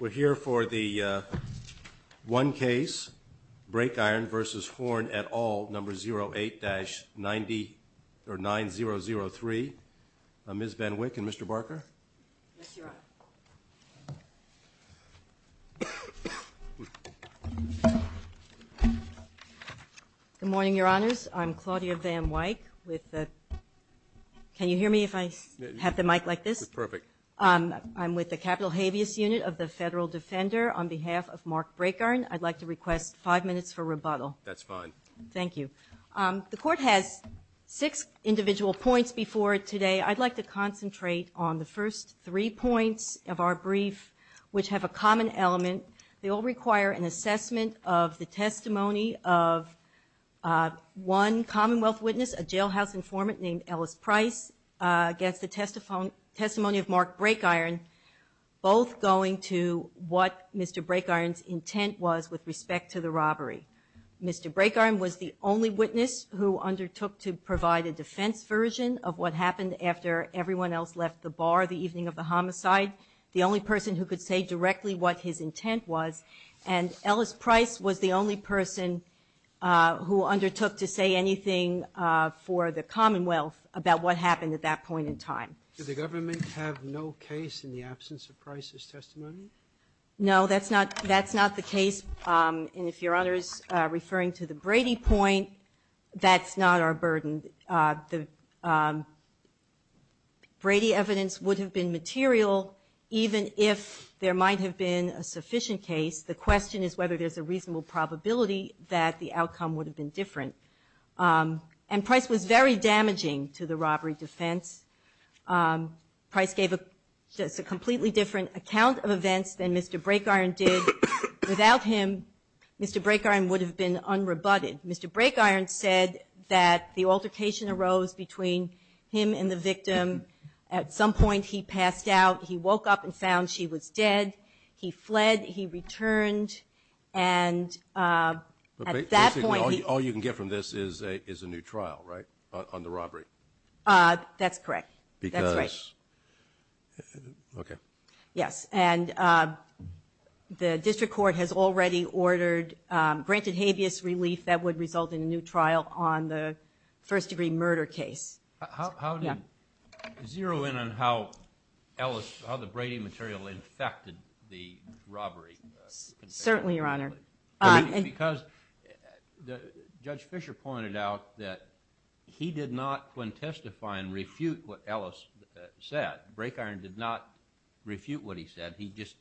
We're here for the one case, Brakeiron v. Horn et al., number 08-9003, Ms. Van Wyk and Mr. Barker. Good morning, Your Honors. I'm Claudia Van Wyk. Can you hear me if I have the mic like this? Perfect. I'm with the Capital Habeas Unit of the Federal Defender. On behalf of Mark Brakeiron, I'd like to request five minutes for rebuttal. That's fine. Thank you. The Court has six individual points before today. I'd like to concentrate on the first three points of our brief, which have a common element. They all require an assessment of the testimony of one Commonwealth witness, a jailhouse informant named Ellis Price, against the testimony of Mark Brakeiron, both going to what Mr. Brakeiron's intent was with respect to the robbery. Mr. Brakeiron was the only witness who undertook to provide a defense version of what happened after everyone else left the bar the evening of the homicide, the only person who could say directly what his intent was. And Ellis Price was the only person who undertook to say anything for the Commonwealth about what happened at that point in time. Did the government have no case in the absence of Price's testimony? No, that's not the case. And if Your Honors are referring to the Brady point, that's not our burden. The Brady evidence would have been material even if there might have been a sufficient case. The question is whether there's a reasonable probability that the outcome would have been different. And Price was very damaging to the robbery defense. Price gave us a completely different account of events than Mr. Brakeiron did. Without him, Mr. Brakeiron would have been unrebutted. Mr. Brakeiron said that the altercation arose between him and the victim. At some point, he passed out. He woke up and found she was dead. He fled. He returned. And at that point, he- Basically, all you can get from this is a new trial, right, on the robbery? That's correct. Because- That's right. Okay. Yes, and the district court has already ordered- granted habeas relief that would result in a new trial on the first-degree murder case. Zero in on how the Brady material infected the robbery. Certainly, Your Honor. Because Judge Fisher pointed out that he did not, when testifying, refute what Ellis said. Brakeiron did not refute what he said. He just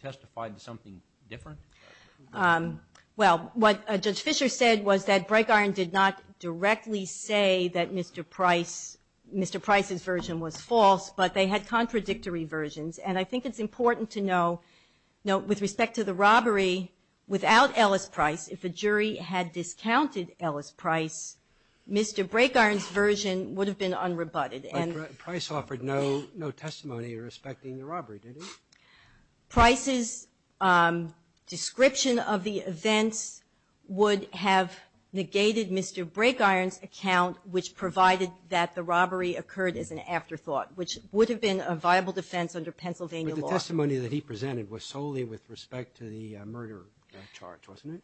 testified to something different? Well, what Judge Fisher said was that Brakeiron did not directly say that Mr. Price's version was false, but they had contradictory versions. And I think it's important to note, with respect to the robbery, without Ellis Price, if a jury had discounted Ellis Price, Mr. Brakeiron's version would have been unrebutted. But Price offered no testimony respecting the robbery, did he? Price's description of the events would have negated Mr. Brakeiron's account, which provided that the robbery occurred as an afterthought, which would have been a viable defense under Pennsylvania law. But the testimony that he presented was solely with respect to the murder charge, wasn't it?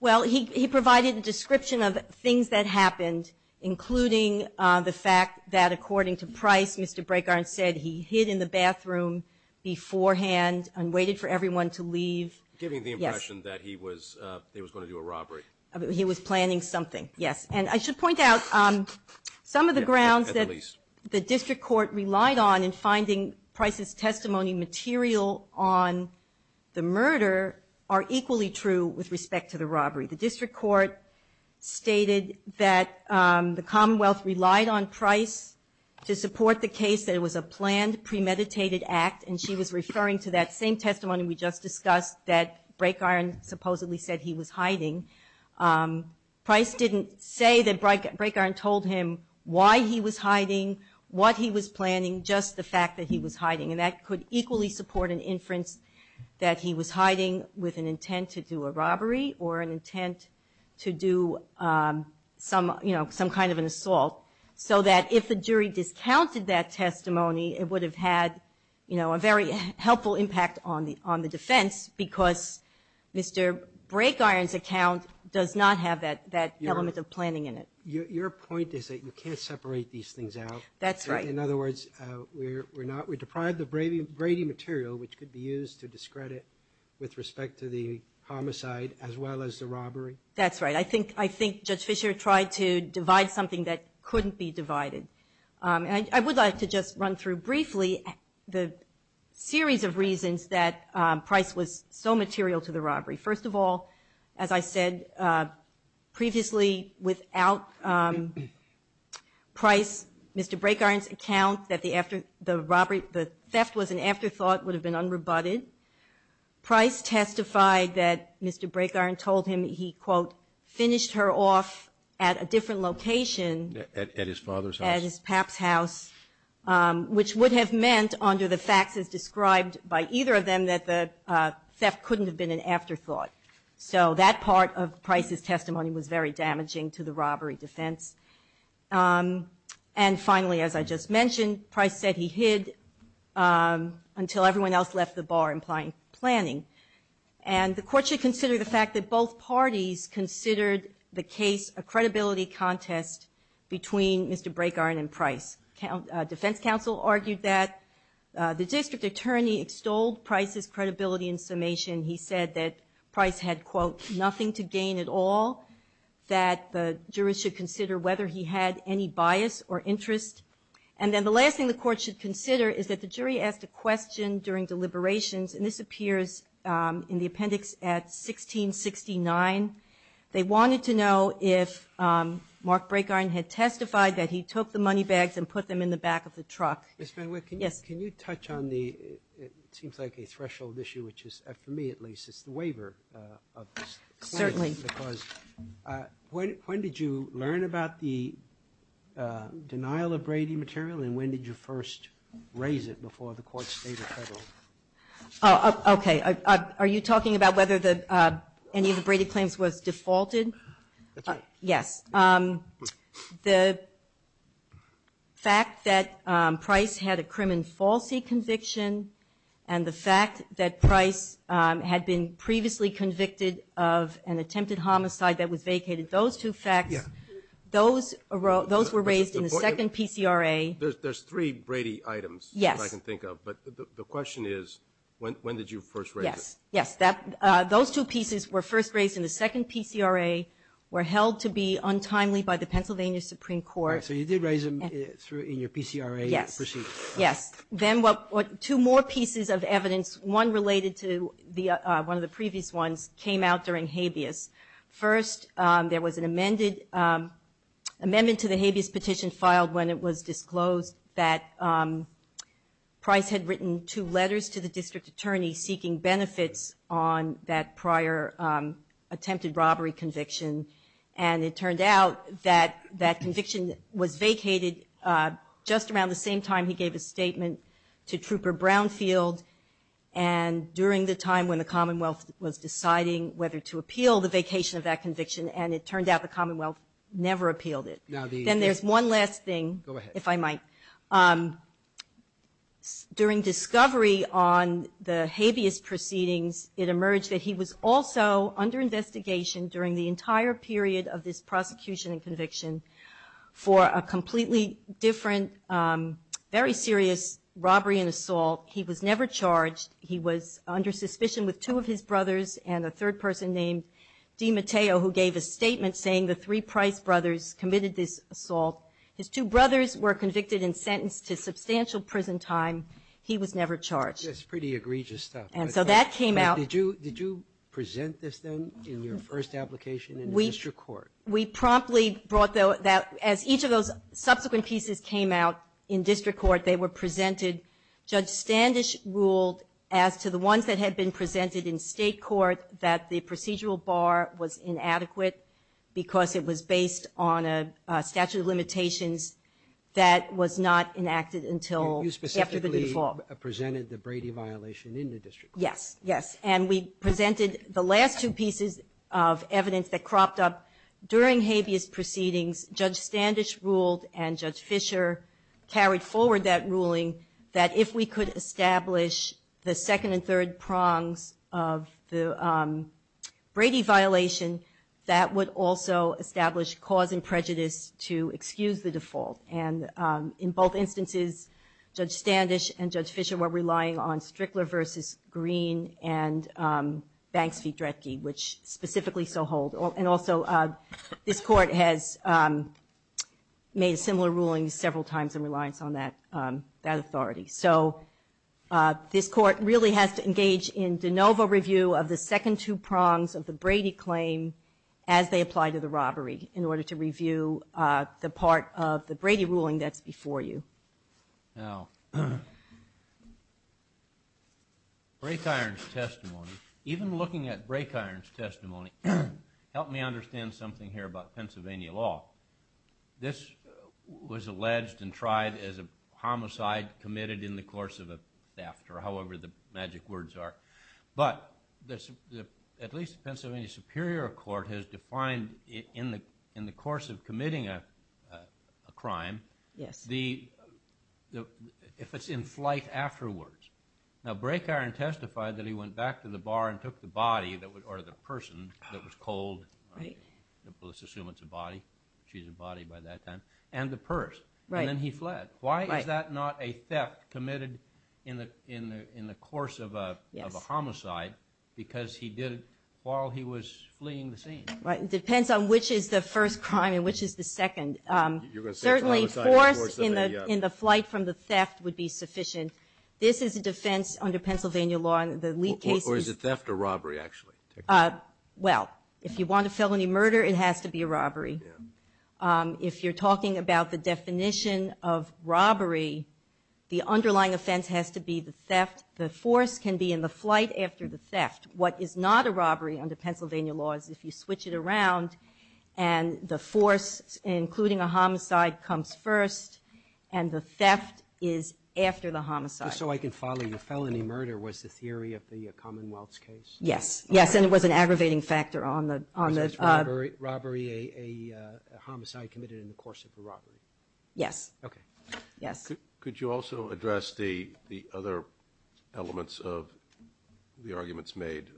Well, he provided a description of things that happened, including the fact that according to Price, Mr. Brakeiron said he hid in the bathroom beforehand and waited for everyone to leave. Giving the impression that he was going to do a robbery. He was planning something, yes. And I should point out some of the grounds that the district court relied on in finding Price's testimony material on the murder are equally true with respect to the robbery. The district court stated that the Commonwealth relied on Price to support the case, that it was a planned, premeditated act, and she was referring to that same testimony we just discussed that Brakeiron supposedly said he was hiding. Price didn't say that Brakeiron told him why he was hiding, what he was planning, just the fact that he was hiding. And that could equally support an inference that he was hiding with an intent to do a robbery or an intent to do some kind of an assault. So that if the jury discounted that testimony, it would have had a very helpful impact on the defense because Mr. Brakeiron's account does not have that element of planning in it. Your point is that you can't separate these things out. That's right. In other words, we're deprived of Brady material, which could be used to discredit with respect to the homicide as well as the robbery? That's right. I think Judge Fischer tried to divide something that couldn't be divided. I would like to just run through briefly the series of reasons that Price was so material to the robbery. First of all, as I said previously, without Price, Mr. Brakeiron's account that the theft was an afterthought would have been unrebutted. Price testified that Mr. Brakeiron told him he, quote, finished her off at a different location. At his father's house? At his pap's house, which would have meant, under the facts as described by either of them, that the theft couldn't have been an afterthought. So that part of Price's testimony was very damaging to the robbery defense. And finally, as I just mentioned, Price said he hid until everyone else left the bar, implying planning. And the Court should consider the fact that both parties considered the case a credibility contest between Mr. Brakeiron and Price. Defense counsel argued that. The district attorney extolled Price's credibility and summation. He said that Price had, quote, nothing to gain at all, that the jurors should consider whether he had any bias or interest. And then the last thing the Court should consider is that the jury asked a question during deliberations, and this appears in the appendix at 1669. They wanted to know if Mark Brakeiron had testified that he took the money bags and put them in the back of the truck. Ms. VanWick, can you touch on the, it seems like a threshold issue, which is, for me at least, it's the waiver of this claim. Certainly. Because when did you learn about the denial of Brady material, and when did you first raise it before the Court stated federal? Okay. Are you talking about whether any of the Brady claims was defaulted? Yes. The fact that Price had a crim and falsi conviction and the fact that Price had been previously convicted of an attempted homicide that was vacated, those two facts, those were raised in the second PCRA. There's three Brady items that I can think of. But the question is, when did you first raise it? Yes. Those two pieces were first raised in the second PCRA, were held to be untimely by the Pennsylvania Supreme Court. So you did raise them in your PCRA proceedings. Yes. Then two more pieces of evidence, one related to one of the previous ones, came out during habeas. First, there was an amendment to the habeas petition filed when it was disclosed that Price had written two letters to the district attorney seeking benefits on that prior attempted robbery conviction, and it turned out that that conviction was vacated just around the same time he gave a statement to Trooper Brownfield, and during the time when the Commonwealth was deciding whether to appeal the vacation of that conviction, and it turned out the Commonwealth never appealed it. Then there's one last thing, if I might. During discovery on the habeas proceedings, it emerged that he was also under investigation during the entire period of this prosecution and conviction for a completely different, very serious robbery and assault. He was never charged. He was under suspicion with two of his brothers and a third person named DiMatteo who gave a statement saying the three Price brothers committed this assault. His two brothers were convicted and sentenced to substantial prison time. He was never charged. That's pretty egregious stuff. And so that came out. Did you present this then in your first application in the district court? We promptly brought that. As each of those subsequent pieces came out in district court, they were presented. Judge Standish ruled as to the ones that had been presented in state court that the procedural bar was inadequate because it was based on a statute of limitations that was not enacted until after the default. You specifically presented the Brady violation in the district court. Yes, yes. And we presented the last two pieces of evidence that cropped up. During habeas proceedings, Judge Standish ruled and Judge Fisher carried forward that ruling that if we could establish the second and third prongs of the Brady violation, that would also establish cause and prejudice to excuse the default. And in both instances, Judge Standish and Judge Fisher were relying on Strickler v. Green and Banks v. Dredge, which specifically so hold. And also, this court has made similar rulings several times in reliance on that authority. So this court really has to engage in de novo review of the second two prongs of the Brady claim as they apply to the robbery in order to review the part of the Brady ruling that's before you. Now, Break Iron's testimony, even looking at Break Iron's testimony, helped me understand something here about Pennsylvania law. This was alleged and tried as a homicide committed in the course of a theft, or however the magic words are. But at least the Pennsylvania Superior Court has defined in the course of committing a crime if it's in flight afterwards. Now, Break Iron testified that he went back to the bar and took the body, or the person, that was cold. Let's assume it's a body. She's a body by that time. And the purse. And then he fled. Why is that not a theft committed in the course of a homicide because he did it while he was fleeing the scene? It depends on which is the first crime and which is the second. And certainly force in the flight from the theft would be sufficient. This is a defense under Pennsylvania law. Or is it theft or robbery, actually? Well, if you want a felony murder, it has to be a robbery. If you're talking about the definition of robbery, the underlying offense has to be the theft. The force can be in the flight after the theft. What is not a robbery under Pennsylvania law is if you switch it around and the force, including a homicide, comes first and the theft is after the homicide. Just so I can follow, the felony murder was the theory of the Commonwealth's case? Yes. Yes, and it was an aggravating factor on the – Was that robbery, a homicide committed in the course of a robbery? Yes. Okay. Yes. Could you also address the other elements of the arguments made?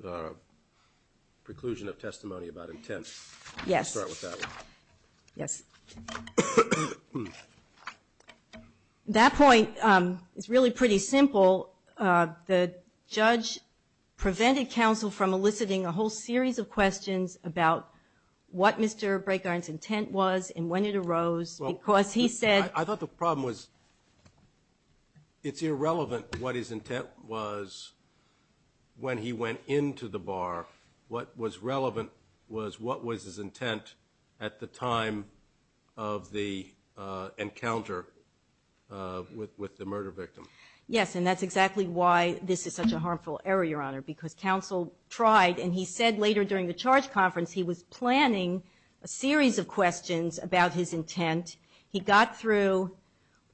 Preclusion of testimony about intent. Yes. Let's start with that one. Yes. That point is really pretty simple. The judge prevented counsel from eliciting a whole series of questions about what Mr. Braykarn's intent was and when it arose because he said – I thought the problem was it's irrelevant what his intent was when he went into the bar. What was relevant was what was his intent at the time of the encounter with the murder victim. Yes, and that's exactly why this is such a harmful error, Your Honor, because counsel tried and he said later during the charge conference he was planning a series of questions about his intent. He got through,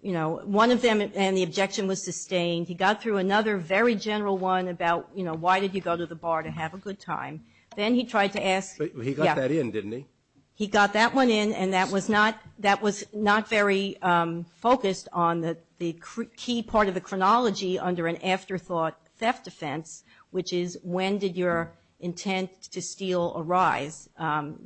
you know, one of them and the objection was sustained. He got through another very general one about, you know, why did he go to the bar to have a good time. Then he tried to ask – He got that in, didn't he? He got that one in and that was not very focused on the key part of the chronology under an afterthought theft offense, which is when did your intent to steal arise.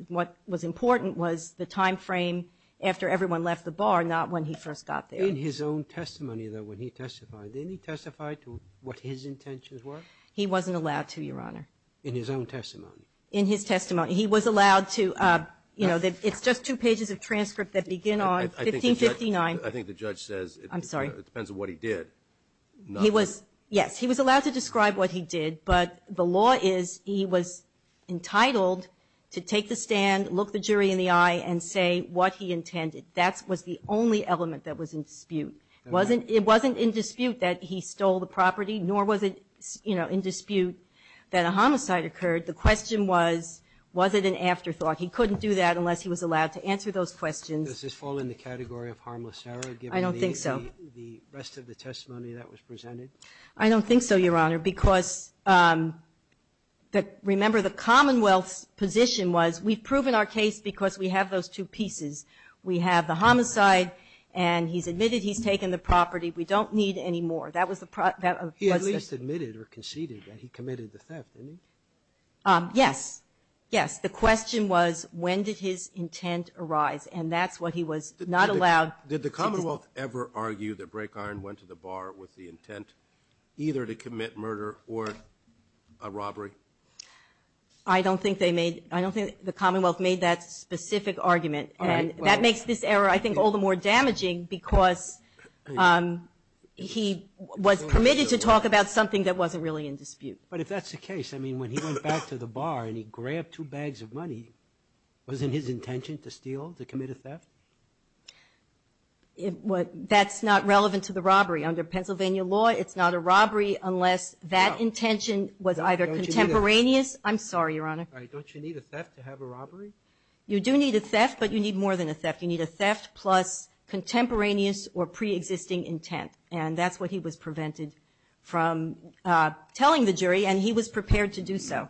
What was important was the time frame after everyone left the bar, not when he first got there. In his own testimony, though, when he testified, didn't he testify to what his intentions were? He wasn't allowed to, Your Honor. In his own testimony? In his testimony. He was allowed to – you know, it's just two pages of transcript that begin on 1559. I think the judge says – I'm sorry. It depends on what he did. He was – yes, he was allowed to describe what he did, but the law is he was entitled to take the stand, look the jury in the eye, and say what he intended. That was the only element that was in dispute. It wasn't in dispute that he stole the property, nor was it, you know, in dispute that a homicide occurred. The question was, was it an afterthought? He couldn't do that unless he was allowed to answer those questions. Does this fall in the category of harmless error? I don't think so. The rest of the testimony that was presented? I don't think so, Your Honor, because remember the Commonwealth's position was we've proven our case because we have those two pieces. We have the homicide, and he's admitted he's taken the property. We don't need any more. That was the – He at least admitted or conceded that he committed the theft, didn't he? Yes. Yes. Did the Commonwealth ever argue that Brake Iron went to the bar with the intent either to commit murder or a robbery? I don't think they made – I don't think the Commonwealth made that specific argument, and that makes this error I think all the more damaging because he was permitted to talk about something that wasn't really in dispute. But if that's the case, I mean, when he went back to the bar and he grabbed two bags of money, wasn't his intention to steal, to commit a theft? That's not relevant to the robbery. Under Pennsylvania law, it's not a robbery unless that intention was either contemporaneous. I'm sorry, Your Honor. Don't you need a theft to have a robbery? You do need a theft, but you need more than a theft. You need a theft plus contemporaneous or preexisting intent, and that's what he was prevented from telling the jury, and he was prepared to do so.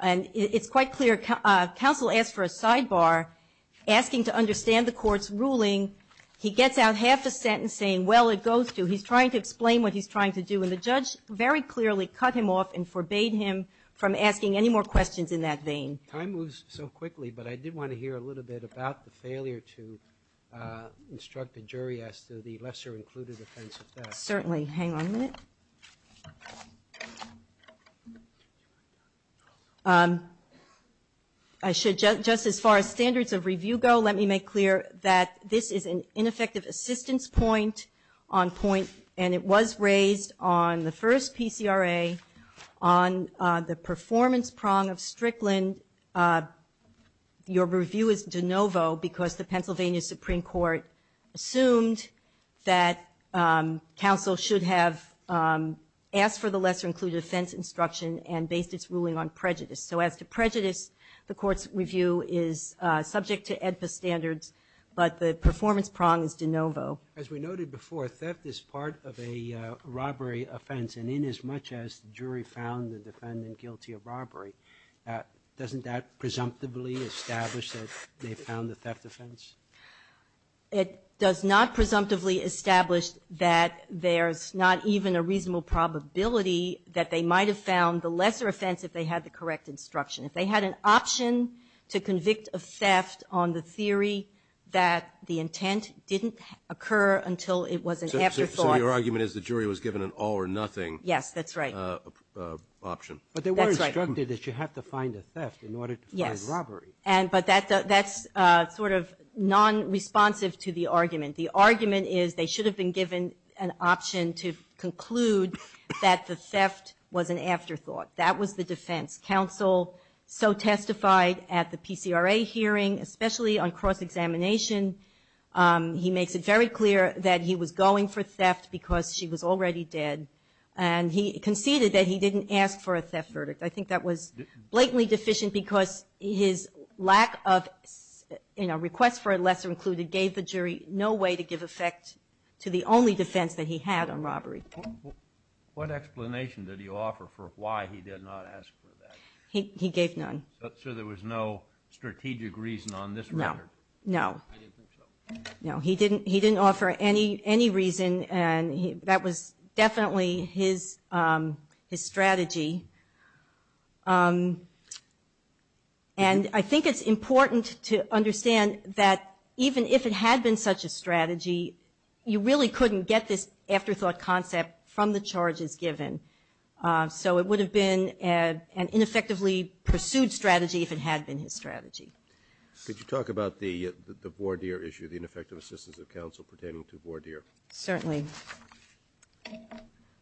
And it's quite clear counsel asked for a sidebar asking to understand the court's ruling. He gets out half the sentence saying, well, it goes to. He's trying to explain what he's trying to do, and the judge very clearly cut him off and forbade him from asking any more questions in that vein. Time moves so quickly, but I did want to hear a little bit about the failure to instruct a jury as to the lesser included offense of theft. Certainly. Hang on a minute. I should just as far as standards of review go, let me make clear that this is an ineffective assistance point on point, and it was raised on the first PCRA on the performance prong of Strickland. Your review is de novo because the Pennsylvania Supreme Court assumed that counsel should have asked for the lesser included offense instruction and based its ruling on prejudice. So as to prejudice, the court's review is subject to AEDPA standards, but the performance prong is de novo. As we noted before, theft is part of a robbery offense, and inasmuch as the jury found the defendant guilty of robbery, doesn't that presumptively establish that they found the theft offense? It does not presumptively establish that there's not even a reasonable probability that they might have found the lesser offense if they had the correct instruction. If they had an option to convict a theft on the theory that the intent didn't occur until it was an afterthought. So your argument is the jury was given an all or nothing option. Yes, that's right. But they were instructed that you have to find a theft in order to find robbery. But that's sort of non-responsive to the argument. The argument is they should have been given an option to conclude that the theft was an afterthought. That was the defense. Counsel so testified at the PCRA hearing, especially on cross-examination, he makes it very clear that he was going for theft because she was already dead, and he conceded that he didn't ask for a theft verdict. I think that was blatantly deficient because his lack of requests for a lesser included gave the jury no way to give effect to the only defense that he had on robbery. What explanation did he offer for why he did not ask for that? He gave none. So there was no strategic reason on this matter? No. I didn't think so. No, he didn't offer any reason, and that was definitely his strategy. And I think it's important to understand that even if it had been such a strategy, you really couldn't get this afterthought concept from the charges given. So it would have been an ineffectively pursued strategy if it had been his strategy. Could you talk about the voir dire issue, the ineffective assistance of counsel pertaining to voir dire? Certainly.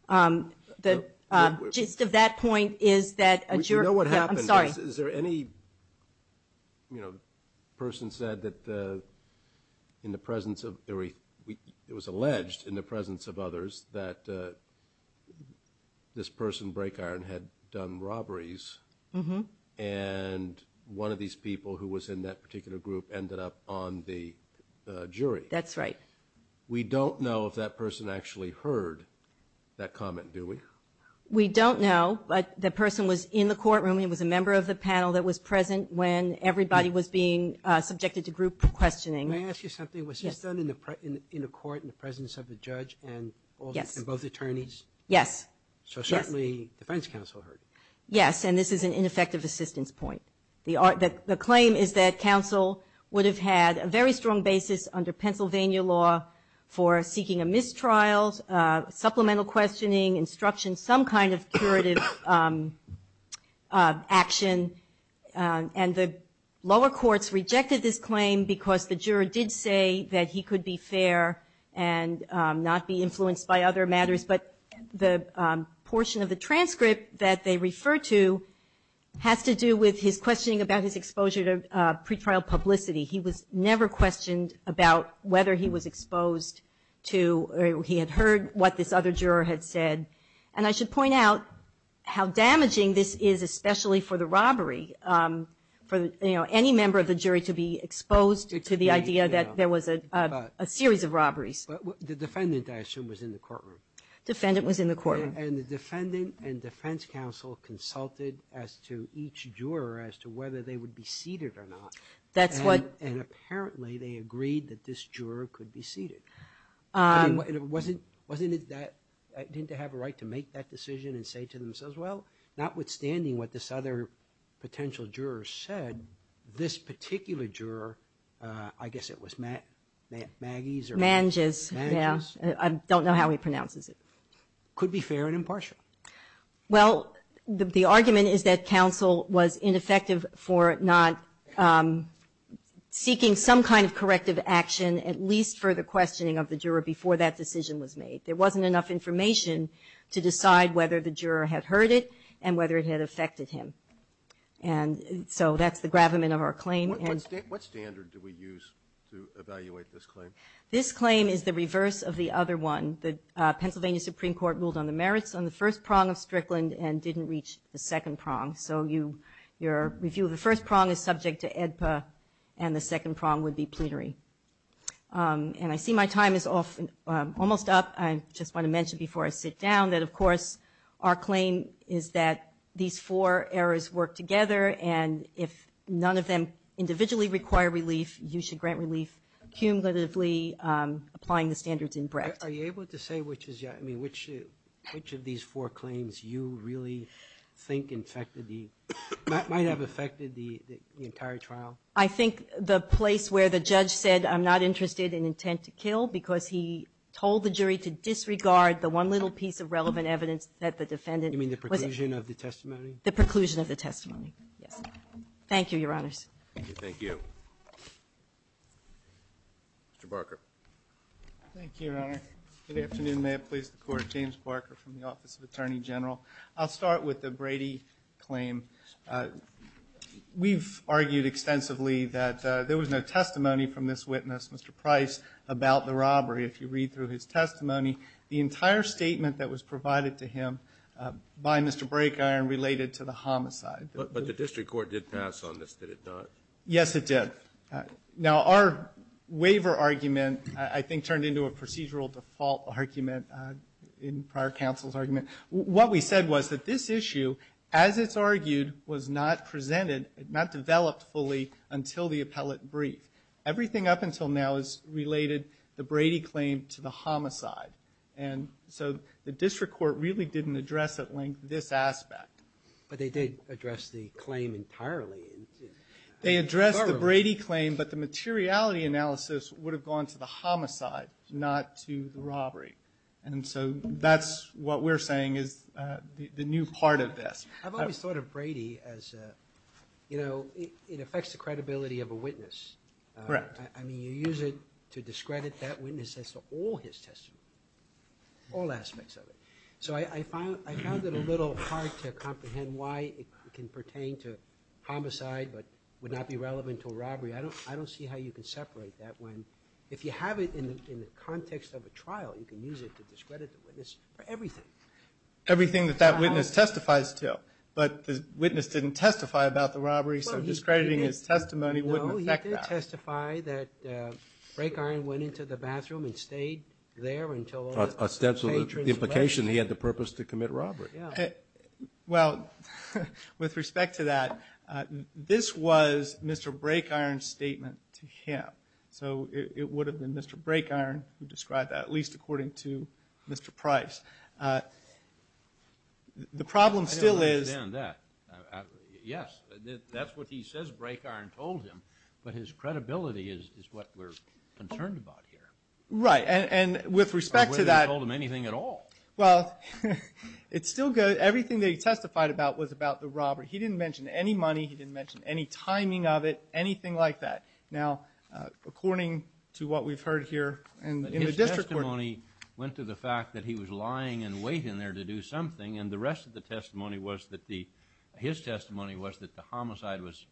The gist of that point is that a jury Would you know what happened? I'm sorry. Is there any person said that in the presence of it was alleged in the presence of others that this person, Brakeiron, had done robberies, and one of these people who was in that particular group ended up on the jury? That's right. We don't know if that person actually heard that comment, do we? We don't know, but the person was in the courtroom. He was a member of the panel that was present when everybody was being subjected to group questioning. May I ask you something? Yes. Was this done in the court in the presence of the judge and both attorneys? Yes. So certainly defense counsel heard it? Yes, and this is an ineffective assistance point. The claim is that counsel would have had a very strong basis under Pennsylvania law for seeking a mistrial, supplemental questioning, instruction, some kind of curative action, and the lower courts rejected this claim because the juror did say that he could be fair and not be influenced by other matters, but the portion of the transcript that they refer to has to do with his questioning about his exposure to pretrial publicity. He was never questioned about whether he was exposed to or he had heard what this other juror had said. And I should point out how damaging this is, especially for the robbery, for any member of the jury to be exposed to the idea that there was a series of robberies. The defendant, I assume, was in the courtroom. The defendant was in the courtroom. And the defendant and defense counsel consulted as to each juror as to whether they would be seated or not. And apparently they agreed that this juror could be seated. Didn't they have a right to make that decision and say to themselves, well, notwithstanding what this other potential juror said, could this particular juror, I guess it was Manges? Manges, yeah. I don't know how he pronounces it. Could be fair and impartial. Well, the argument is that counsel was ineffective for not seeking some kind of corrective action, at least for the questioning of the juror before that decision was made. There wasn't enough information to decide whether the juror had heard it and whether it had affected him. And so that's the gravamen of our claim. What standard do we use to evaluate this claim? This claim is the reverse of the other one. The Pennsylvania Supreme Court ruled on the merits on the first prong of Strickland and didn't reach the second prong. So your review of the first prong is subject to AEDPA and the second prong would be plenary. And I see my time is almost up. I just want to mention before I sit down that, of course, our claim is that these four errors work together, and if none of them individually require relief, you should grant relief cumulatively applying the standards in breadth. Are you able to say which of these four claims you really think might have affected the entire trial? I think the place where the judge said, I'm not interested in intent to kill because he told the jury to disregard the one little piece of relevant evidence that the defendant was in. You mean the preclusion of the testimony? The preclusion of the testimony, yes. Thank you, Your Honors. Thank you. Mr. Barker. Thank you, Your Honor. Good afternoon. May it please the Court. James Barker from the Office of Attorney General. I'll start with the Brady claim. We've argued extensively that there was no testimony from this witness, Mr. Price, about the robbery. If you read through his testimony, the entire statement that was provided to him by Mr. Brakeiron related to the homicide. But the district court did pass on this, did it not? Yes, it did. Now, our waiver argument, I think, turned into a procedural default argument in prior counsel's argument. What we said was that this issue, as it's argued, was not presented, not developed fully until the appellate brief. Everything up until now has related the Brady claim to the homicide. And so the district court really didn't address at length this aspect. But they did address the claim entirely. They addressed the Brady claim, but the materiality analysis would have gone to the homicide, not to the robbery. And so that's what we're saying is the new part of this. I've always thought of Brady as, you know, it affects the credibility of a witness. Correct. I mean, you use it to discredit that witness as to all his testimony, all aspects of it. So I found it a little hard to comprehend why it can pertain to homicide but would not be relevant to a robbery. I don't see how you can separate that one. If you have it in the context of a trial, you can use it to discredit the witness for everything. Everything that that witness testifies to. But the witness didn't testify about the robbery, so discrediting his testimony wouldn't affect that. No, he did testify that Brakeiron went into the bathroom and stayed there until all the patrons left. Ostensibly the implication he had the purpose to commit robbery. Well, with respect to that, this was Mr. Brakeiron's statement to him. So it would have been Mr. Brakeiron who described that, at least according to Mr. Price. The problem still is. I don't understand that. Yes, that's what he says Brakeiron told him, but his credibility is what we're concerned about here. Right, and with respect to that. I wouldn't have told him anything at all. Well, it's still good. Everything that he testified about was about the robbery. He didn't mention any money. He didn't mention any timing of it, anything like that. Now, according to what we've heard here in the district court. His testimony went to the fact that he was lying and waiting there to do something, and the rest of the testimony was that the, his testimony was that the homicide was,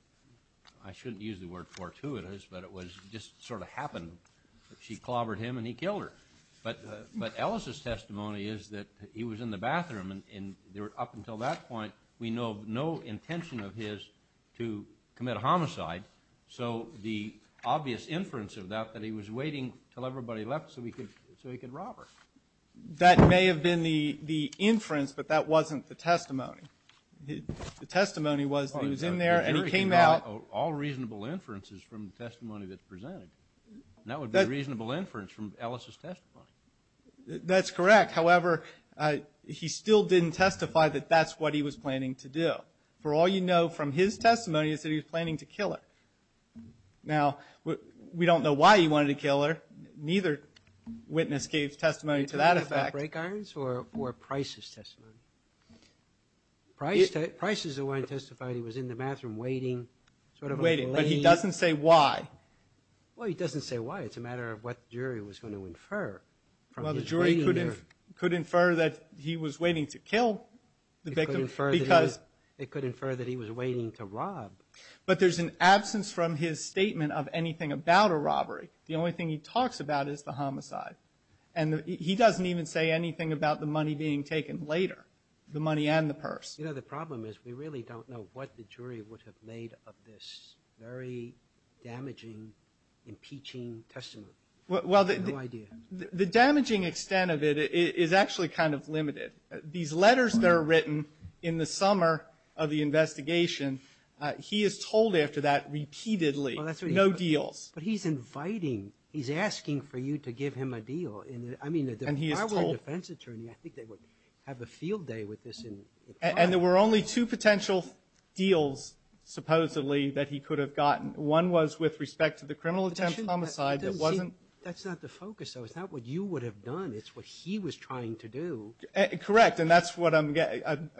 I shouldn't use the word fortuitous, but it just sort of happened. She clobbered him and he killed her. But Ellis' testimony is that he was in the bathroom, and up until that point, we know no intention of his to commit a homicide. So the obvious inference of that, that he was waiting until everybody left so he could rob her. That may have been the inference, but that wasn't the testimony. The testimony was that he was in there and he came out. All reasonable inferences from the testimony that's presented. That would be a reasonable inference from Ellis' testimony. That's correct. However, he still didn't testify that that's what he was planning to do. For all you know from his testimony is that he was planning to kill her. Now, we don't know why he wanted to kill her. Neither witness gave testimony to that effect. Break irons or Price's testimony? Price is the one who testified he was in the bathroom waiting. But he doesn't say why. Well, he doesn't say why. It's a matter of what the jury was going to infer. Well, the jury could infer that he was waiting to kill the victim because it could infer that he was waiting to rob. But there's an absence from his statement of anything about a robbery. The only thing he talks about is the homicide. And he doesn't even say anything about the money being taken later, the money and the purse. You know, the problem is we really don't know what the jury would have made of this very damaging, impeaching testimony. Well, the damaging extent of it is actually kind of limited. These letters that are written in the summer of the investigation, he is told after that repeatedly, no deals. But he's inviting, he's asking for you to give him a deal. I mean, if I were a defense attorney, I think they would have a field day with this. And there were only two potential deals, supposedly, that he could have gotten. One was with respect to the criminal attempt homicide. That's not the focus, though. It's not what you would have done. It's what he was trying to do. Correct. And that's what I'm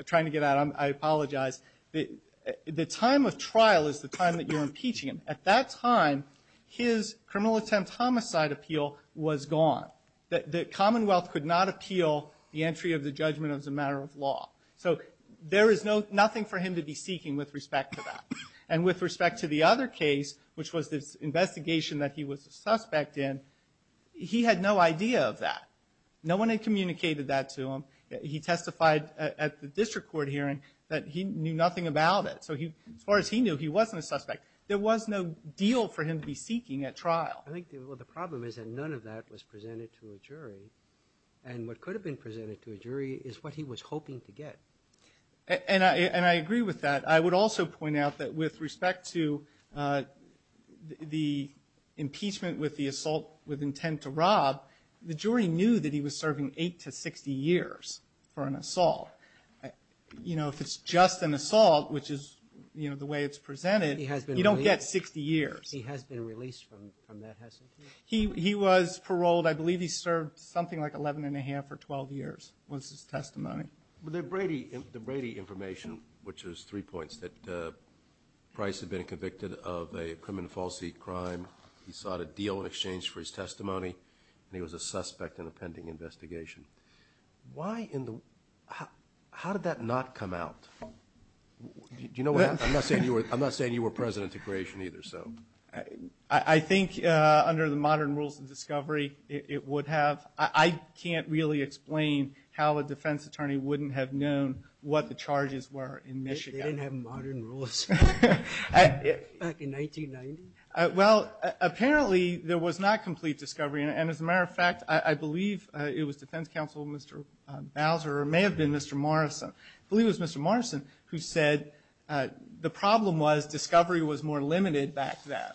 trying to get at. I apologize. The time of trial is the time that you're impeaching him. At that time, his criminal attempt homicide appeal was gone. The Commonwealth could not appeal the entry of the judgment as a matter of law. So there is nothing for him to be seeking with respect to that. And with respect to the other case, which was this investigation that he was a suspect in, he had no idea of that. No one had communicated that to him. He testified at the district court hearing that he knew nothing about it. So as far as he knew, he wasn't a suspect. There was no deal for him to be seeking at trial. I think the problem is that none of that was presented to a jury. And what could have been presented to a jury is what he was hoping to get. And I agree with that. I would also point out that with respect to the impeachment with the assault with intent to rob, the jury knew that he was serving eight to 60 years for an assault. You know, if it's just an assault, which is, you know, the way it's presented, you don't get 60 years. He has been released from that, hasn't he? He was paroled. I believe he served something like 11 1⁄2 or 12 years was his testimony. Well, the Brady information, which is three points, that Price had been convicted of a criminal falsity crime. He sought a deal in exchange for his testimony, and he was a suspect in a pending investigation. Why in the – how did that not come out? Do you know what – I'm not saying you were president to creation either, so. I think under the modern rules of discovery, it would have. I can't really explain how a defense attorney wouldn't have known what the charges were in Michigan. They didn't have modern rules back in 1990? Well, apparently there was not complete discovery. And as a matter of fact, I believe it was defense counsel, Mr. Bowser, or it may have been Mr. Morrison. I believe it was Mr. Morrison who said the problem was discovery was more limited back then.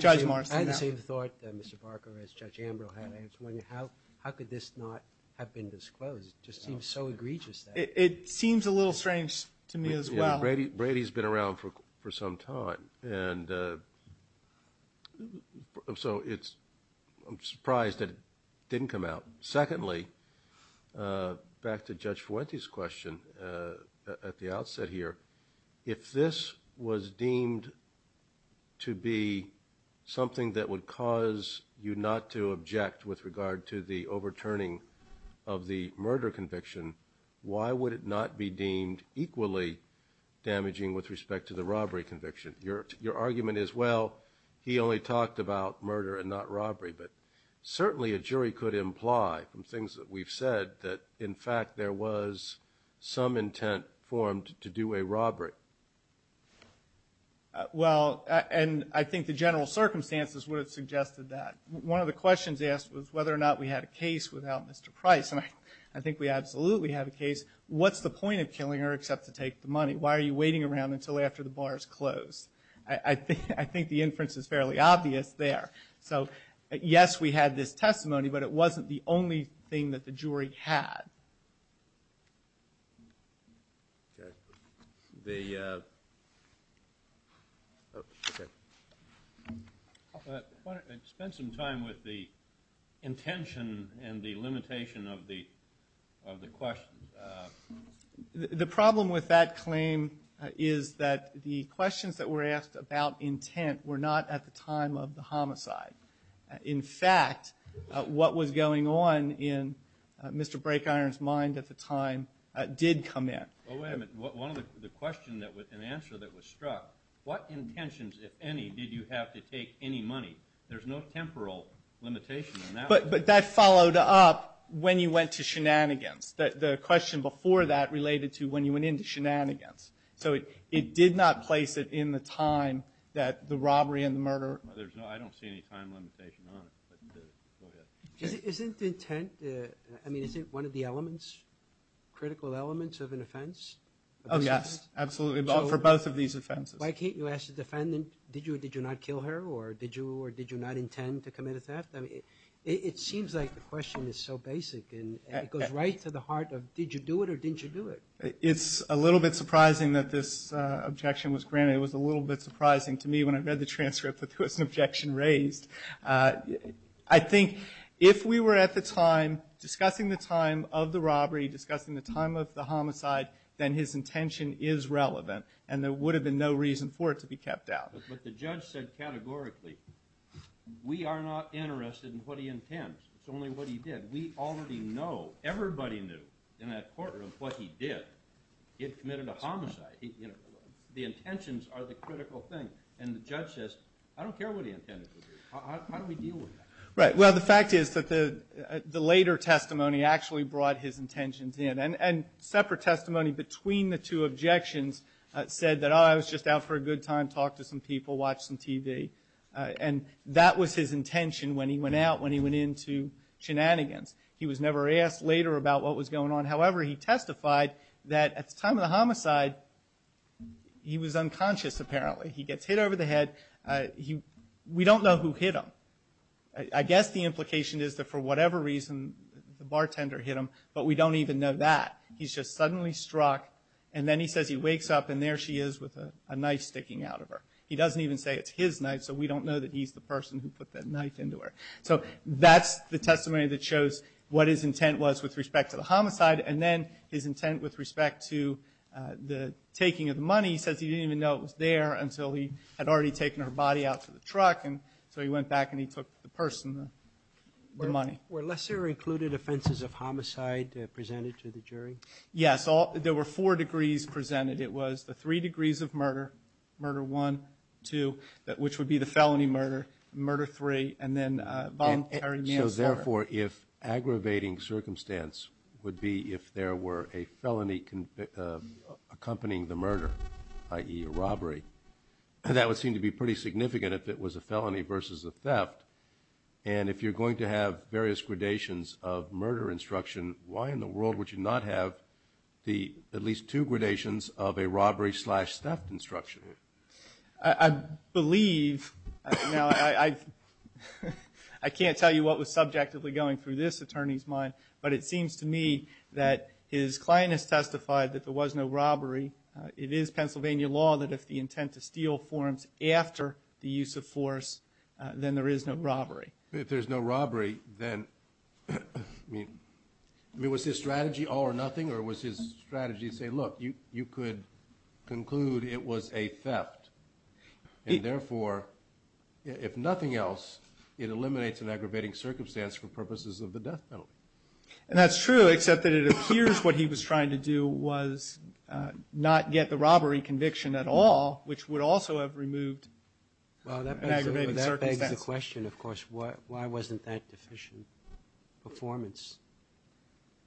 Judge Morrison. I had the same thought, Mr. Barker, as Judge Ambrose had. How could this not have been disclosed? It just seems so egregious. It seems a little strange to me as well. Brady's been around for some time, and so it's – I'm surprised that it didn't come out. Secondly, back to Judge Fuentes' question at the outset here, if this was deemed to be something that would cause you not to object with regard to the overturning of the murder conviction, why would it not be deemed equally damaging with respect to the robbery conviction? Your argument is, well, he only talked about murder and not robbery. But certainly a jury could imply from things that we've said that, in fact, there was some intent formed to do a robbery. Well, and I think the general circumstances would have suggested that. One of the questions asked was whether or not we had a case without Mr. Price. And I think we absolutely have a case. What's the point of killing her except to take the money? Why are you waiting around until after the bar is closed? I think the inference is fairly obvious there. So, yes, we had this testimony, but it wasn't the only thing that the jury had. Okay. Spend some time with the intention and the limitation of the question. The problem with that claim is that the questions that were asked about intent were not at the time of the homicide. In fact, what was going on in Mr. Brakeiron's mind at the time did come in. Well, wait a minute. One of the questions that was an answer that was struck, what intentions, if any, did you have to take any money? There's no temporal limitation on that. But that followed up when you went to shenanigans. The question before that related to when you went into shenanigans. So it did not place it in the time that the robbery and the murder. I don't see any time limitation on it. Isn't intent, I mean, isn't one of the elements, critical elements of an offense? Oh, yes, absolutely, for both of these offenses. Why can't you ask the defendant, did you or did you not kill her, or did you or did you not intend to commit a theft? I mean, it seems like the question is so basic, and it goes right to the heart of did you do it or didn't you do it. It's a little bit surprising that this objection was granted. It was a little bit surprising to me when I read the transcript that there was an objection raised. I think if we were at the time discussing the time of the robbery, discussing the time of the homicide, then his intention is relevant, and there would have been no reason for it to be kept out. But the judge said categorically, we are not interested in what he intends. It's only what he did. We already know, everybody knew in that courtroom what he did. He had committed a homicide. The intentions are the critical thing. And the judge says, I don't care what he intended to do. How do we deal with that? Right, well, the fact is that the later testimony actually brought his intentions in. And separate testimony between the two objections said that, oh, I was just out for a good time, talked to some people, watched some TV. And that was his intention when he went out, when he went into shenanigans. He was never asked later about what was going on. However, he testified that at the time of the homicide he was unconscious, apparently. He gets hit over the head. We don't know who hit him. I guess the implication is that for whatever reason the bartender hit him, but we don't even know that. He's just suddenly struck. And then he says he wakes up and there she is with a knife sticking out of her. He doesn't even say it's his knife, so we don't know that he's the person who put that knife into her. So that's the testimony that shows what his intent was with respect to the homicide. And then his intent with respect to the taking of the money, he says he didn't even know it was there until he had already taken her body out to the truck. And so he went back and he took the person, the money. Were lesser-included offenses of homicide presented to the jury? Yes. There were four degrees presented. It was the three degrees of murder, murder one, two, which would be the felony murder, murder three, and then voluntary manslaughter. So, therefore, if aggravating circumstance would be if there were a felony accompanying the murder, i.e. a robbery, that would seem to be pretty significant if it was a felony versus a theft. And if you're going to have various gradations of murder instruction, why in the world would you not have at least two gradations of a robbery slash theft instruction? I believe, now I can't tell you what was subjectively going through this attorney's mind, but it seems to me that his client has testified that there was no robbery. It is Pennsylvania law that if the intent to steal forms after the use of force, then there is no robbery. If there's no robbery, then, I mean, was his strategy all or nothing, or was his strategy to say, look, you could conclude it was a theft, and, therefore, if nothing else, it eliminates an aggravating circumstance for purposes of the death penalty. And that's true, except that it appears what he was trying to do was not get the robbery conviction at all, which would also have removed an aggravating circumstance. Well, that begs the question, of course, why wasn't that deficient performance?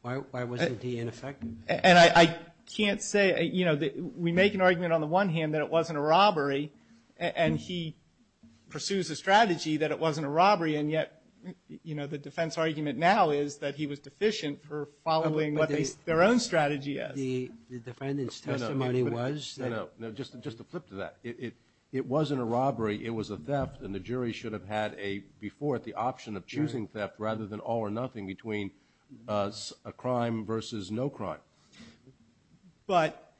Why wasn't he ineffective? And I can't say, you know, we make an argument on the one hand that it wasn't a robbery, and he pursues a strategy that it wasn't a robbery. And yet, you know, the defense argument now is that he was deficient for following what their own strategy is. The defendant's testimony was? No, no, just to flip to that. It wasn't a robbery. It was a theft, and the jury should have had before it the option of choosing theft rather than all or nothing between a crime versus no crime. But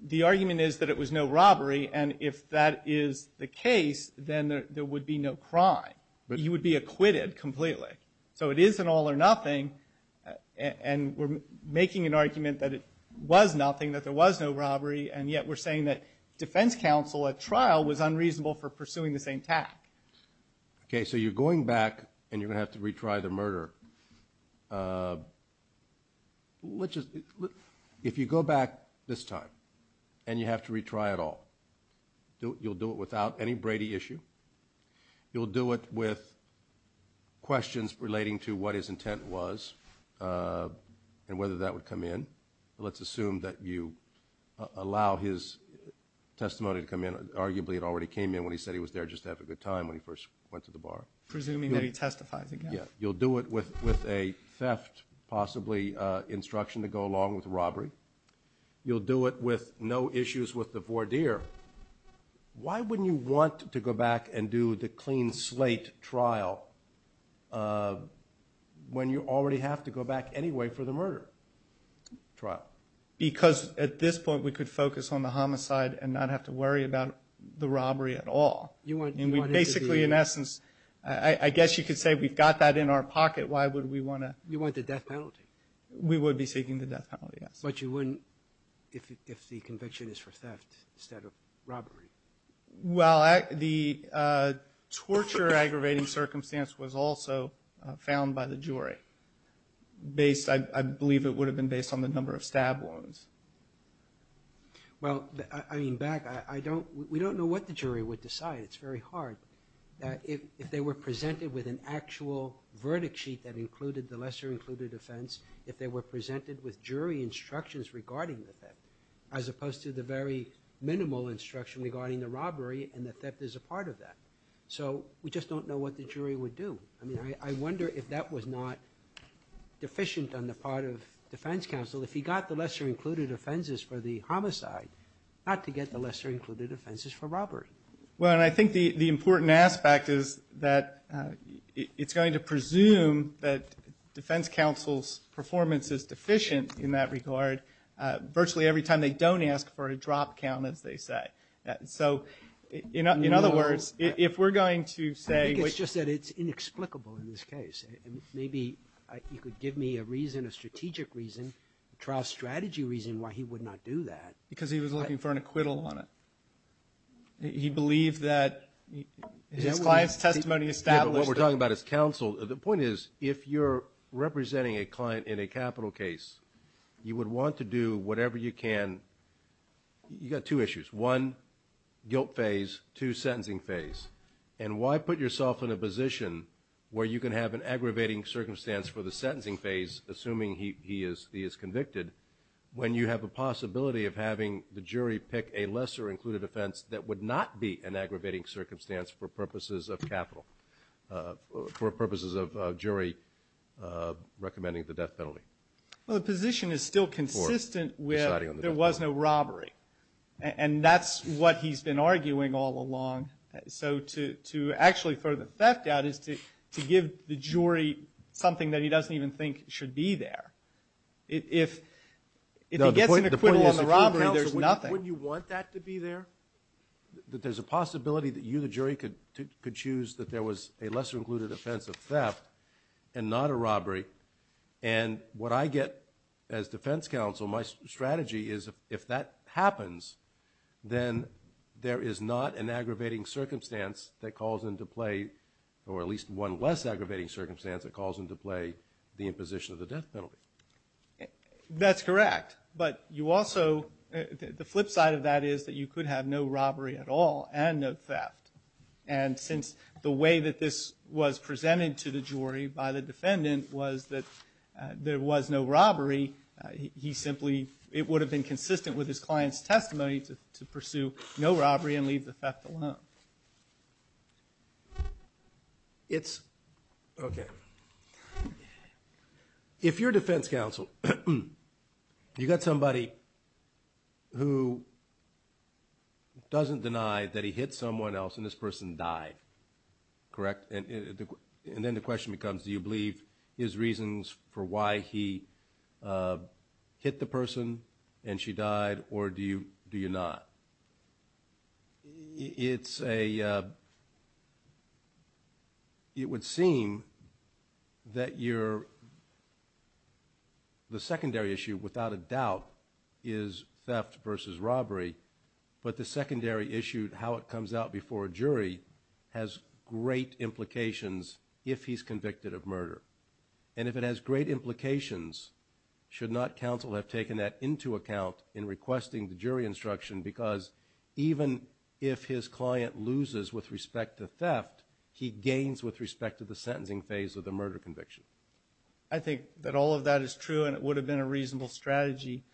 the argument is that it was no robbery, and if that is the case, then there would be no crime. He would be acquitted completely. So it is an all or nothing, and we're making an argument that it was nothing, that there was no robbery, and yet we're saying that defense counsel at trial was unreasonable for pursuing the same tack. Okay, so you're going back and you're going to have to retry the murder. If you go back this time and you have to retry it all, you'll do it without any Brady issue? You'll do it with questions relating to what his intent was and whether that would come in. Let's assume that you allow his testimony to come in. Arguably, it already came in when he said he was there just to have a good time when he first went to the bar. Presuming that he testifies again. Yeah, you'll do it with a theft, possibly instruction to go along with robbery. You'll do it with no issues with the voir dire. Why wouldn't you want to go back and do the clean slate trial when you already have to go back anyway for the murder trial? Because at this point, we could focus on the homicide and not have to worry about the robbery at all. And we basically, in essence, I guess you could say we've got that in our pocket. Why would we want to? You want the death penalty. We would be seeking the death penalty, yes. But you wouldn't if the conviction is for theft instead of robbery? Well, the torture aggravating circumstance was also found by the jury. I believe it would have been based on the number of stab wounds. Well, I mean, back, we don't know what the jury would decide. It's very hard. If they were presented with an actual verdict sheet that included the lesser included offense, if they were presented with jury instructions regarding the theft, as opposed to the very minimal instruction regarding the robbery and the theft as a part of that. So we just don't know what the jury would do. I mean, I wonder if that was not deficient on the part of defense counsel, if he got the lesser included offenses for the homicide, not to get the lesser included offenses for robbery. Well, and I think the important aspect is that it's going to presume that defense counsel's performance is deficient in that regard virtually every time they don't ask for a drop count, as they say. So, in other words, if we're going to say we're going to say. I think it's just that it's inexplicable in this case. Maybe you could give me a reason, a strategic reason, a trial strategy reason why he would not do that. Because he was looking for an acquittal on it. He believed that his client's testimony established that. Yeah, but what we're talking about is counsel. The point is, if you're representing a client in a capital case, you would want to do whatever you can. You've got two issues. One, guilt phase. Two, sentencing phase. And why put yourself in a position where you can have an aggravating circumstance for the sentencing phase, assuming he is convicted, when you have a possibility of having the jury pick a lesser included offense that would not be an aggravating circumstance for purposes of capital, for purposes of jury recommending the death penalty. Well, the position is still consistent with there was no robbery. And that's what he's been arguing all along. So to actually throw the theft out is to give the jury something that he doesn't even think should be there. If he gets an acquittal on the robbery, there's nothing. Wouldn't you want that to be there? That there's a possibility that you, the jury, could choose that there was a lesser included offense of theft and not a robbery. And what I get as defense counsel, my strategy is if that happens, then there is not an aggravating circumstance that calls into play, or at least one less aggravating circumstance that calls into play the imposition of the death penalty. That's correct. But you also, the flip side of that is that you could have no robbery at all and no theft. And since the way that this was presented to the jury by the defendant was that there was no robbery, he simply, it would have been consistent with his client's testimony to pursue no robbery and leave the theft alone. It's, okay. If you're defense counsel, you've got somebody who doesn't deny that he hit someone else and this person died, correct? And then the question becomes, do you believe his reasons for why he hit the person and she died, or do you not? It's a, it would seem that you're, the secondary issue, without a doubt, is theft versus robbery, but the secondary issue, how it comes out before a jury, has great implications if he's convicted of murder. And if it has great implications, should not counsel have taken that into account in requesting the jury instruction? Because even if his client loses with respect to theft, he gains with respect to the sentencing phase of the murder conviction. I think that all of that is true and it would have been a reasonable strategy.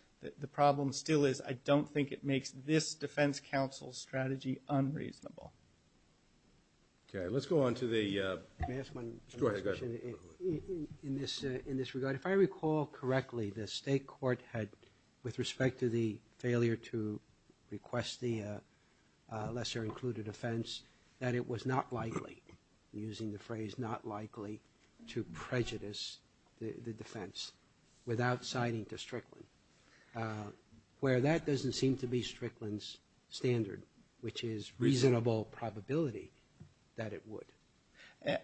The problem still is, I don't think it makes this defense counsel's strategy unreasonable. Okay, let's go on to the, go ahead, go ahead. In this regard, if I recall correctly, the state court had, with respect to the failure to request the lesser included offense, that it was not likely, using the phrase not likely, to prejudice the defense without citing to Strickland. Where that doesn't seem to be Strickland's standard, which is reasonable probability that it would.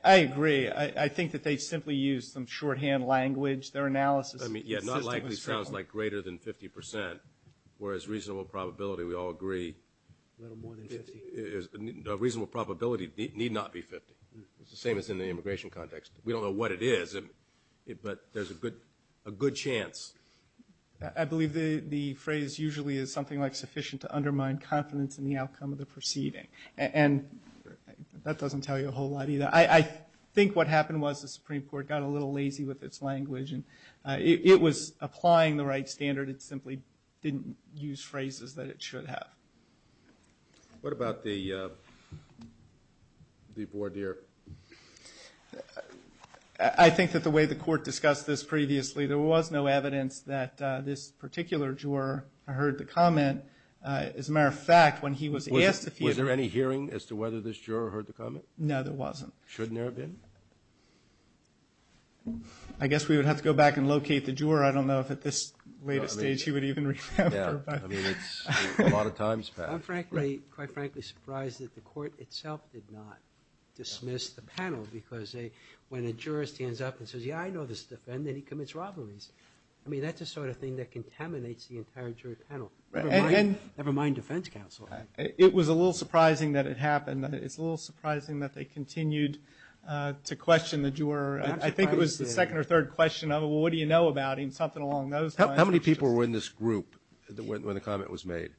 I agree. I think that they simply used some shorthand language. Their analysis. I mean, yeah, not likely sounds like greater than 50%, whereas reasonable probability, we all agree. A little more than 50. A reasonable probability need not be 50. It's the same as in the immigration context. We don't know what it is, but there's a good chance. I believe the phrase usually is something like sufficient to undermine confidence in the outcome of the proceeding. And that doesn't tell you a whole lot either. I think what happened was the Supreme Court got a little lazy with its language. It was applying the right standard. It simply didn't use phrases that it should have. What about the voir dire? I think that the way the court discussed this previously, there was no evidence that this particular juror heard the comment. As a matter of fact, when he was asked if he was. Was there any hearing as to whether this juror heard the comment? No, there wasn't. Shouldn't there have been? I guess we would have to go back and locate the juror. I don't know if at this latest stage he would even remember. I'm quite frankly surprised that the court itself did not dismiss the panel. Because when a juror stands up and says, yeah, I know this defendant, he commits robberies. I mean, that's the sort of thing that contaminates the entire jury panel. Never mind defense counsel. It was a little surprising that it happened. It's a little surprising that they continued to question the juror. I think it was the second or third question. What do you know about him? Something along those lines. How many people were in this group when the comment was made?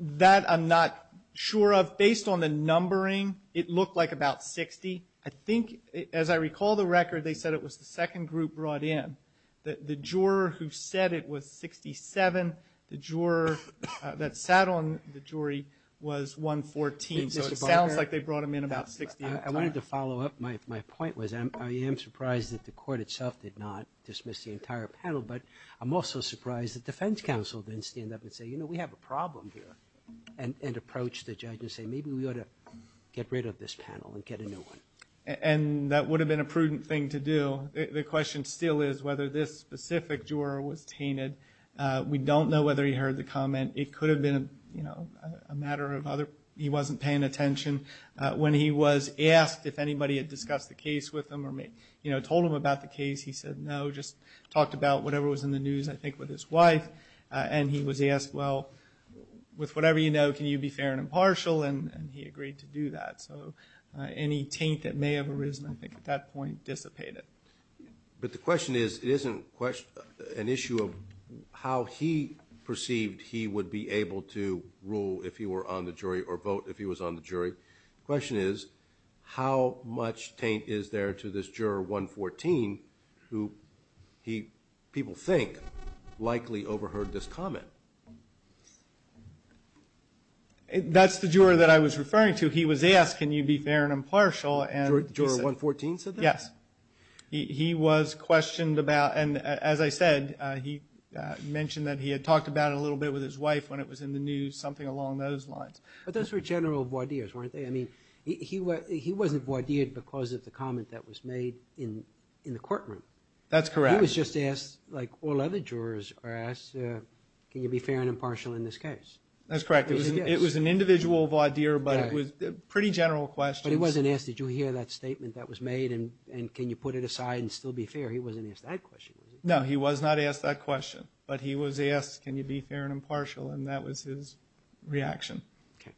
That I'm not sure of. Based on the numbering, it looked like about 60. I think, as I recall the record, they said it was the second group brought in. The juror who said it was 67, the juror that sat on the jury was 114. So it sounds like they brought him in about 60 at a time. I wanted to follow up. My point was I am surprised that the court itself did not dismiss the entire panel. But I'm also surprised that defense counsel didn't stand up and say, you know, we have a problem here, and approach the judge and say, maybe we ought to get rid of this panel and get a new one. And that would have been a prudent thing to do. The question still is whether this specific juror was tainted. We don't know whether he heard the comment. It could have been a matter of he wasn't paying attention. When he was asked if anybody had discussed the case with him or told him about the case, he said no, just talked about whatever was in the news, I think, with his wife. And he was asked, well, with whatever you know, can you be fair and impartial? And he agreed to do that. So any taint that may have arisen, I think, at that point dissipated. But the question is it isn't an issue of how he perceived he would be able to rule if he were on the jury or vote if he was on the jury. The question is how much taint is there to this juror 114 who people think likely overheard this comment? That's the juror that I was referring to. He was asked can you be fair and impartial. Juror 114 said that? Yes. He was questioned about, and as I said, he mentioned that he had talked about it a little bit with his wife when it was in the news, something along those lines. But those were general voir dires, weren't they? I mean, he wasn't voir dired because of the comment that was made in the courtroom. That's correct. He was just asked, like all other jurors are asked, can you be fair and impartial in this case? That's correct. It was an individual voir dire, but it was pretty general questions. But he wasn't asked, did you hear that statement that was made, and can you put it aside and still be fair? He wasn't asked that question, was he? No, he was not asked that question. But he was asked can you be fair and impartial, and that was his reaction. Okay.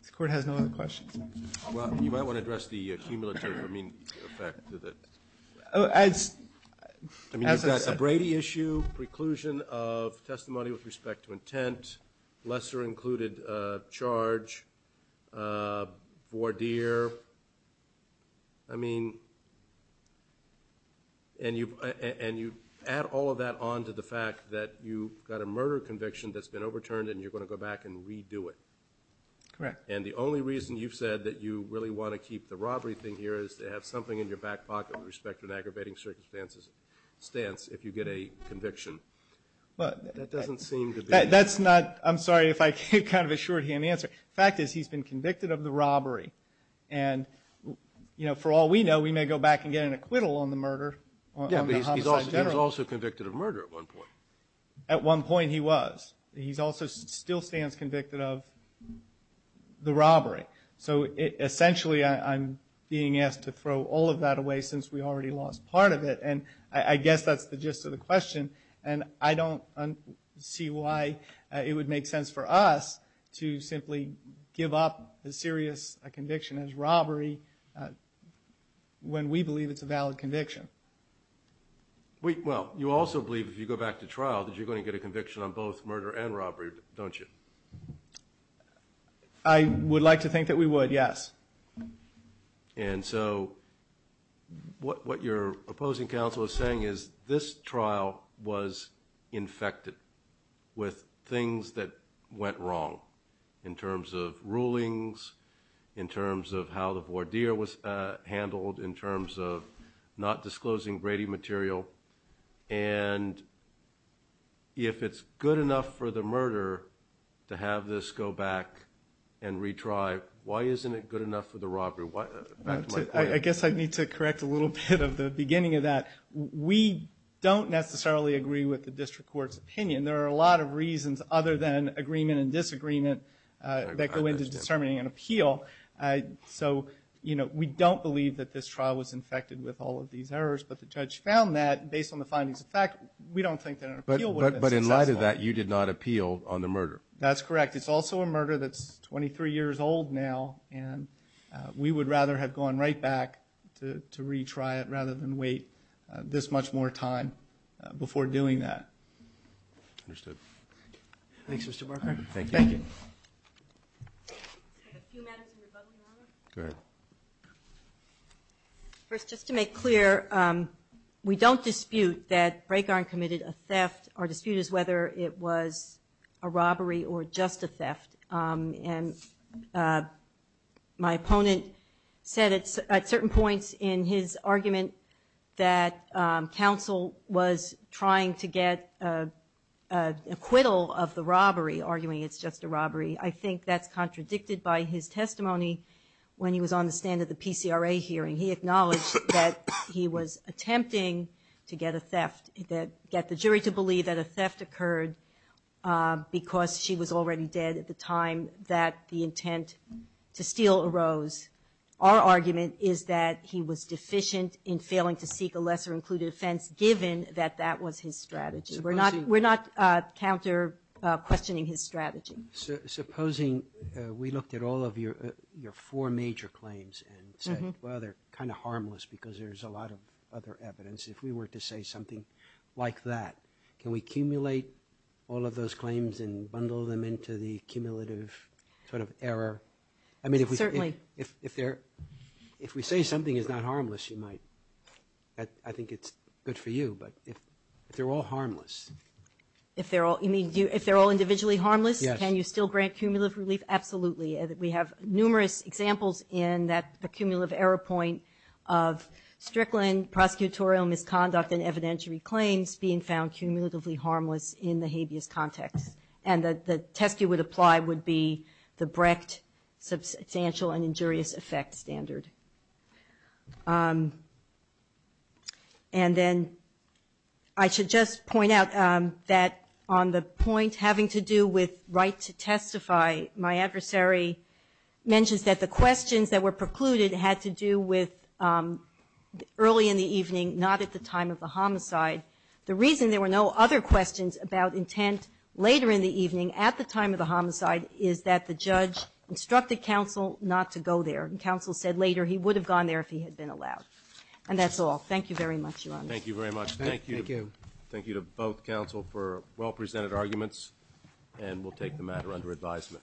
This Court has no other questions. Well, you might want to address the cumulative effect of it. As I said. I mean, is that a Brady issue, preclusion of testimony with respect to intent, lesser included charge, voir dire? I mean, and you add all of that on to the fact that you've got a murder conviction that's been overturned and you're going to go back and redo it. Correct. And the only reason you've said that you really want to keep the robbery thing here is to have something in your back pocket with respect to an aggravating circumstance if you get a conviction. That doesn't seem to be. That's not, I'm sorry if I gave kind of a shorthand answer. The fact is he's been convicted of the robbery. And, you know, for all we know, we may go back and get an acquittal on the murder. Yeah, but he was also convicted of murder at one point. At one point he was. He also still stands convicted of the robbery. So essentially I'm being asked to throw all of that away since we already lost part of it. And I guess that's the gist of the question. And I don't see why it would make sense for us to simply give up as serious a conviction as robbery when we believe it's a valid conviction. Well, you also believe if you go back to trial that you're going to get a conviction on both murder and robbery, don't you? I would like to think that we would, yes. And so what your opposing counsel is saying is this trial was infected with things that went wrong in terms of rulings, in terms of how the voir dire was handled, in terms of not disclosing Brady material. And if it's good enough for the murder to have this go back and retry, why isn't it good enough for the robbery? I guess I need to correct a little bit of the beginning of that. We don't necessarily agree with the district court's opinion. There are a lot of reasons other than agreement and disagreement that go into determining an appeal. So we don't believe that this trial was infected with all of these errors. But the judge found that, based on the findings of fact, we don't think that an appeal would have been successful. But in light of that, you did not appeal on the murder. That's correct. It's also a murder that's 23 years old now, and we would rather have gone right back to retry it rather than wait this much more time before doing that. Understood. Thanks, Mr. Barker. Thank you. I have a few matters in rebuttal, Your Honor. Go ahead. First, just to make clear, we don't dispute that Braegarn committed a theft. Our dispute is whether it was a robbery or just a theft. And my opponent said at certain points in his argument that counsel was trying to get acquittal of the robbery, arguing it's just a robbery. I think that's contradicted by his testimony when he was on the stand at the PCRA hearing. He acknowledged that he was attempting to get a theft, get the jury to believe that a theft occurred because she was already dead at the time that the intent to steal arose. Our argument is that he was deficient in failing to seek a lesser-included offense, given that that was his strategy. We're not counter-questioning his strategy. Supposing we looked at all of your four major claims and said, well, they're kind of harmless because there's a lot of other evidence. If we were to say something like that, can we accumulate all of those claims and bundle them into the cumulative sort of error? Certainly. If we say something is not harmless, you might. I think it's good for you. But if they're all harmless. If they're all individually harmless, can you still grant cumulative relief? Absolutely. We have numerous examples in that accumulative error point of Strickland, prosecutorial misconduct and evidentiary claims being found cumulatively harmless in the habeas context. And the test you would apply would be the Brecht substantial and injurious effect standard. And then I should just point out that on the point having to do with right to testify, my adversary mentions that the questions that were precluded had to do with early in the evening, not at the time of the homicide. The reason there were no other questions about intent later in the evening, at the time of the homicide, is that the judge instructed counsel not to go there. And counsel said later he would have gone there if he had been allowed. And that's all. Thank you very much, Your Honor. Thank you very much. Thank you. Thank you. Thank you to both counsel for well-presented arguments. And we'll take the matter under advisement. Recess.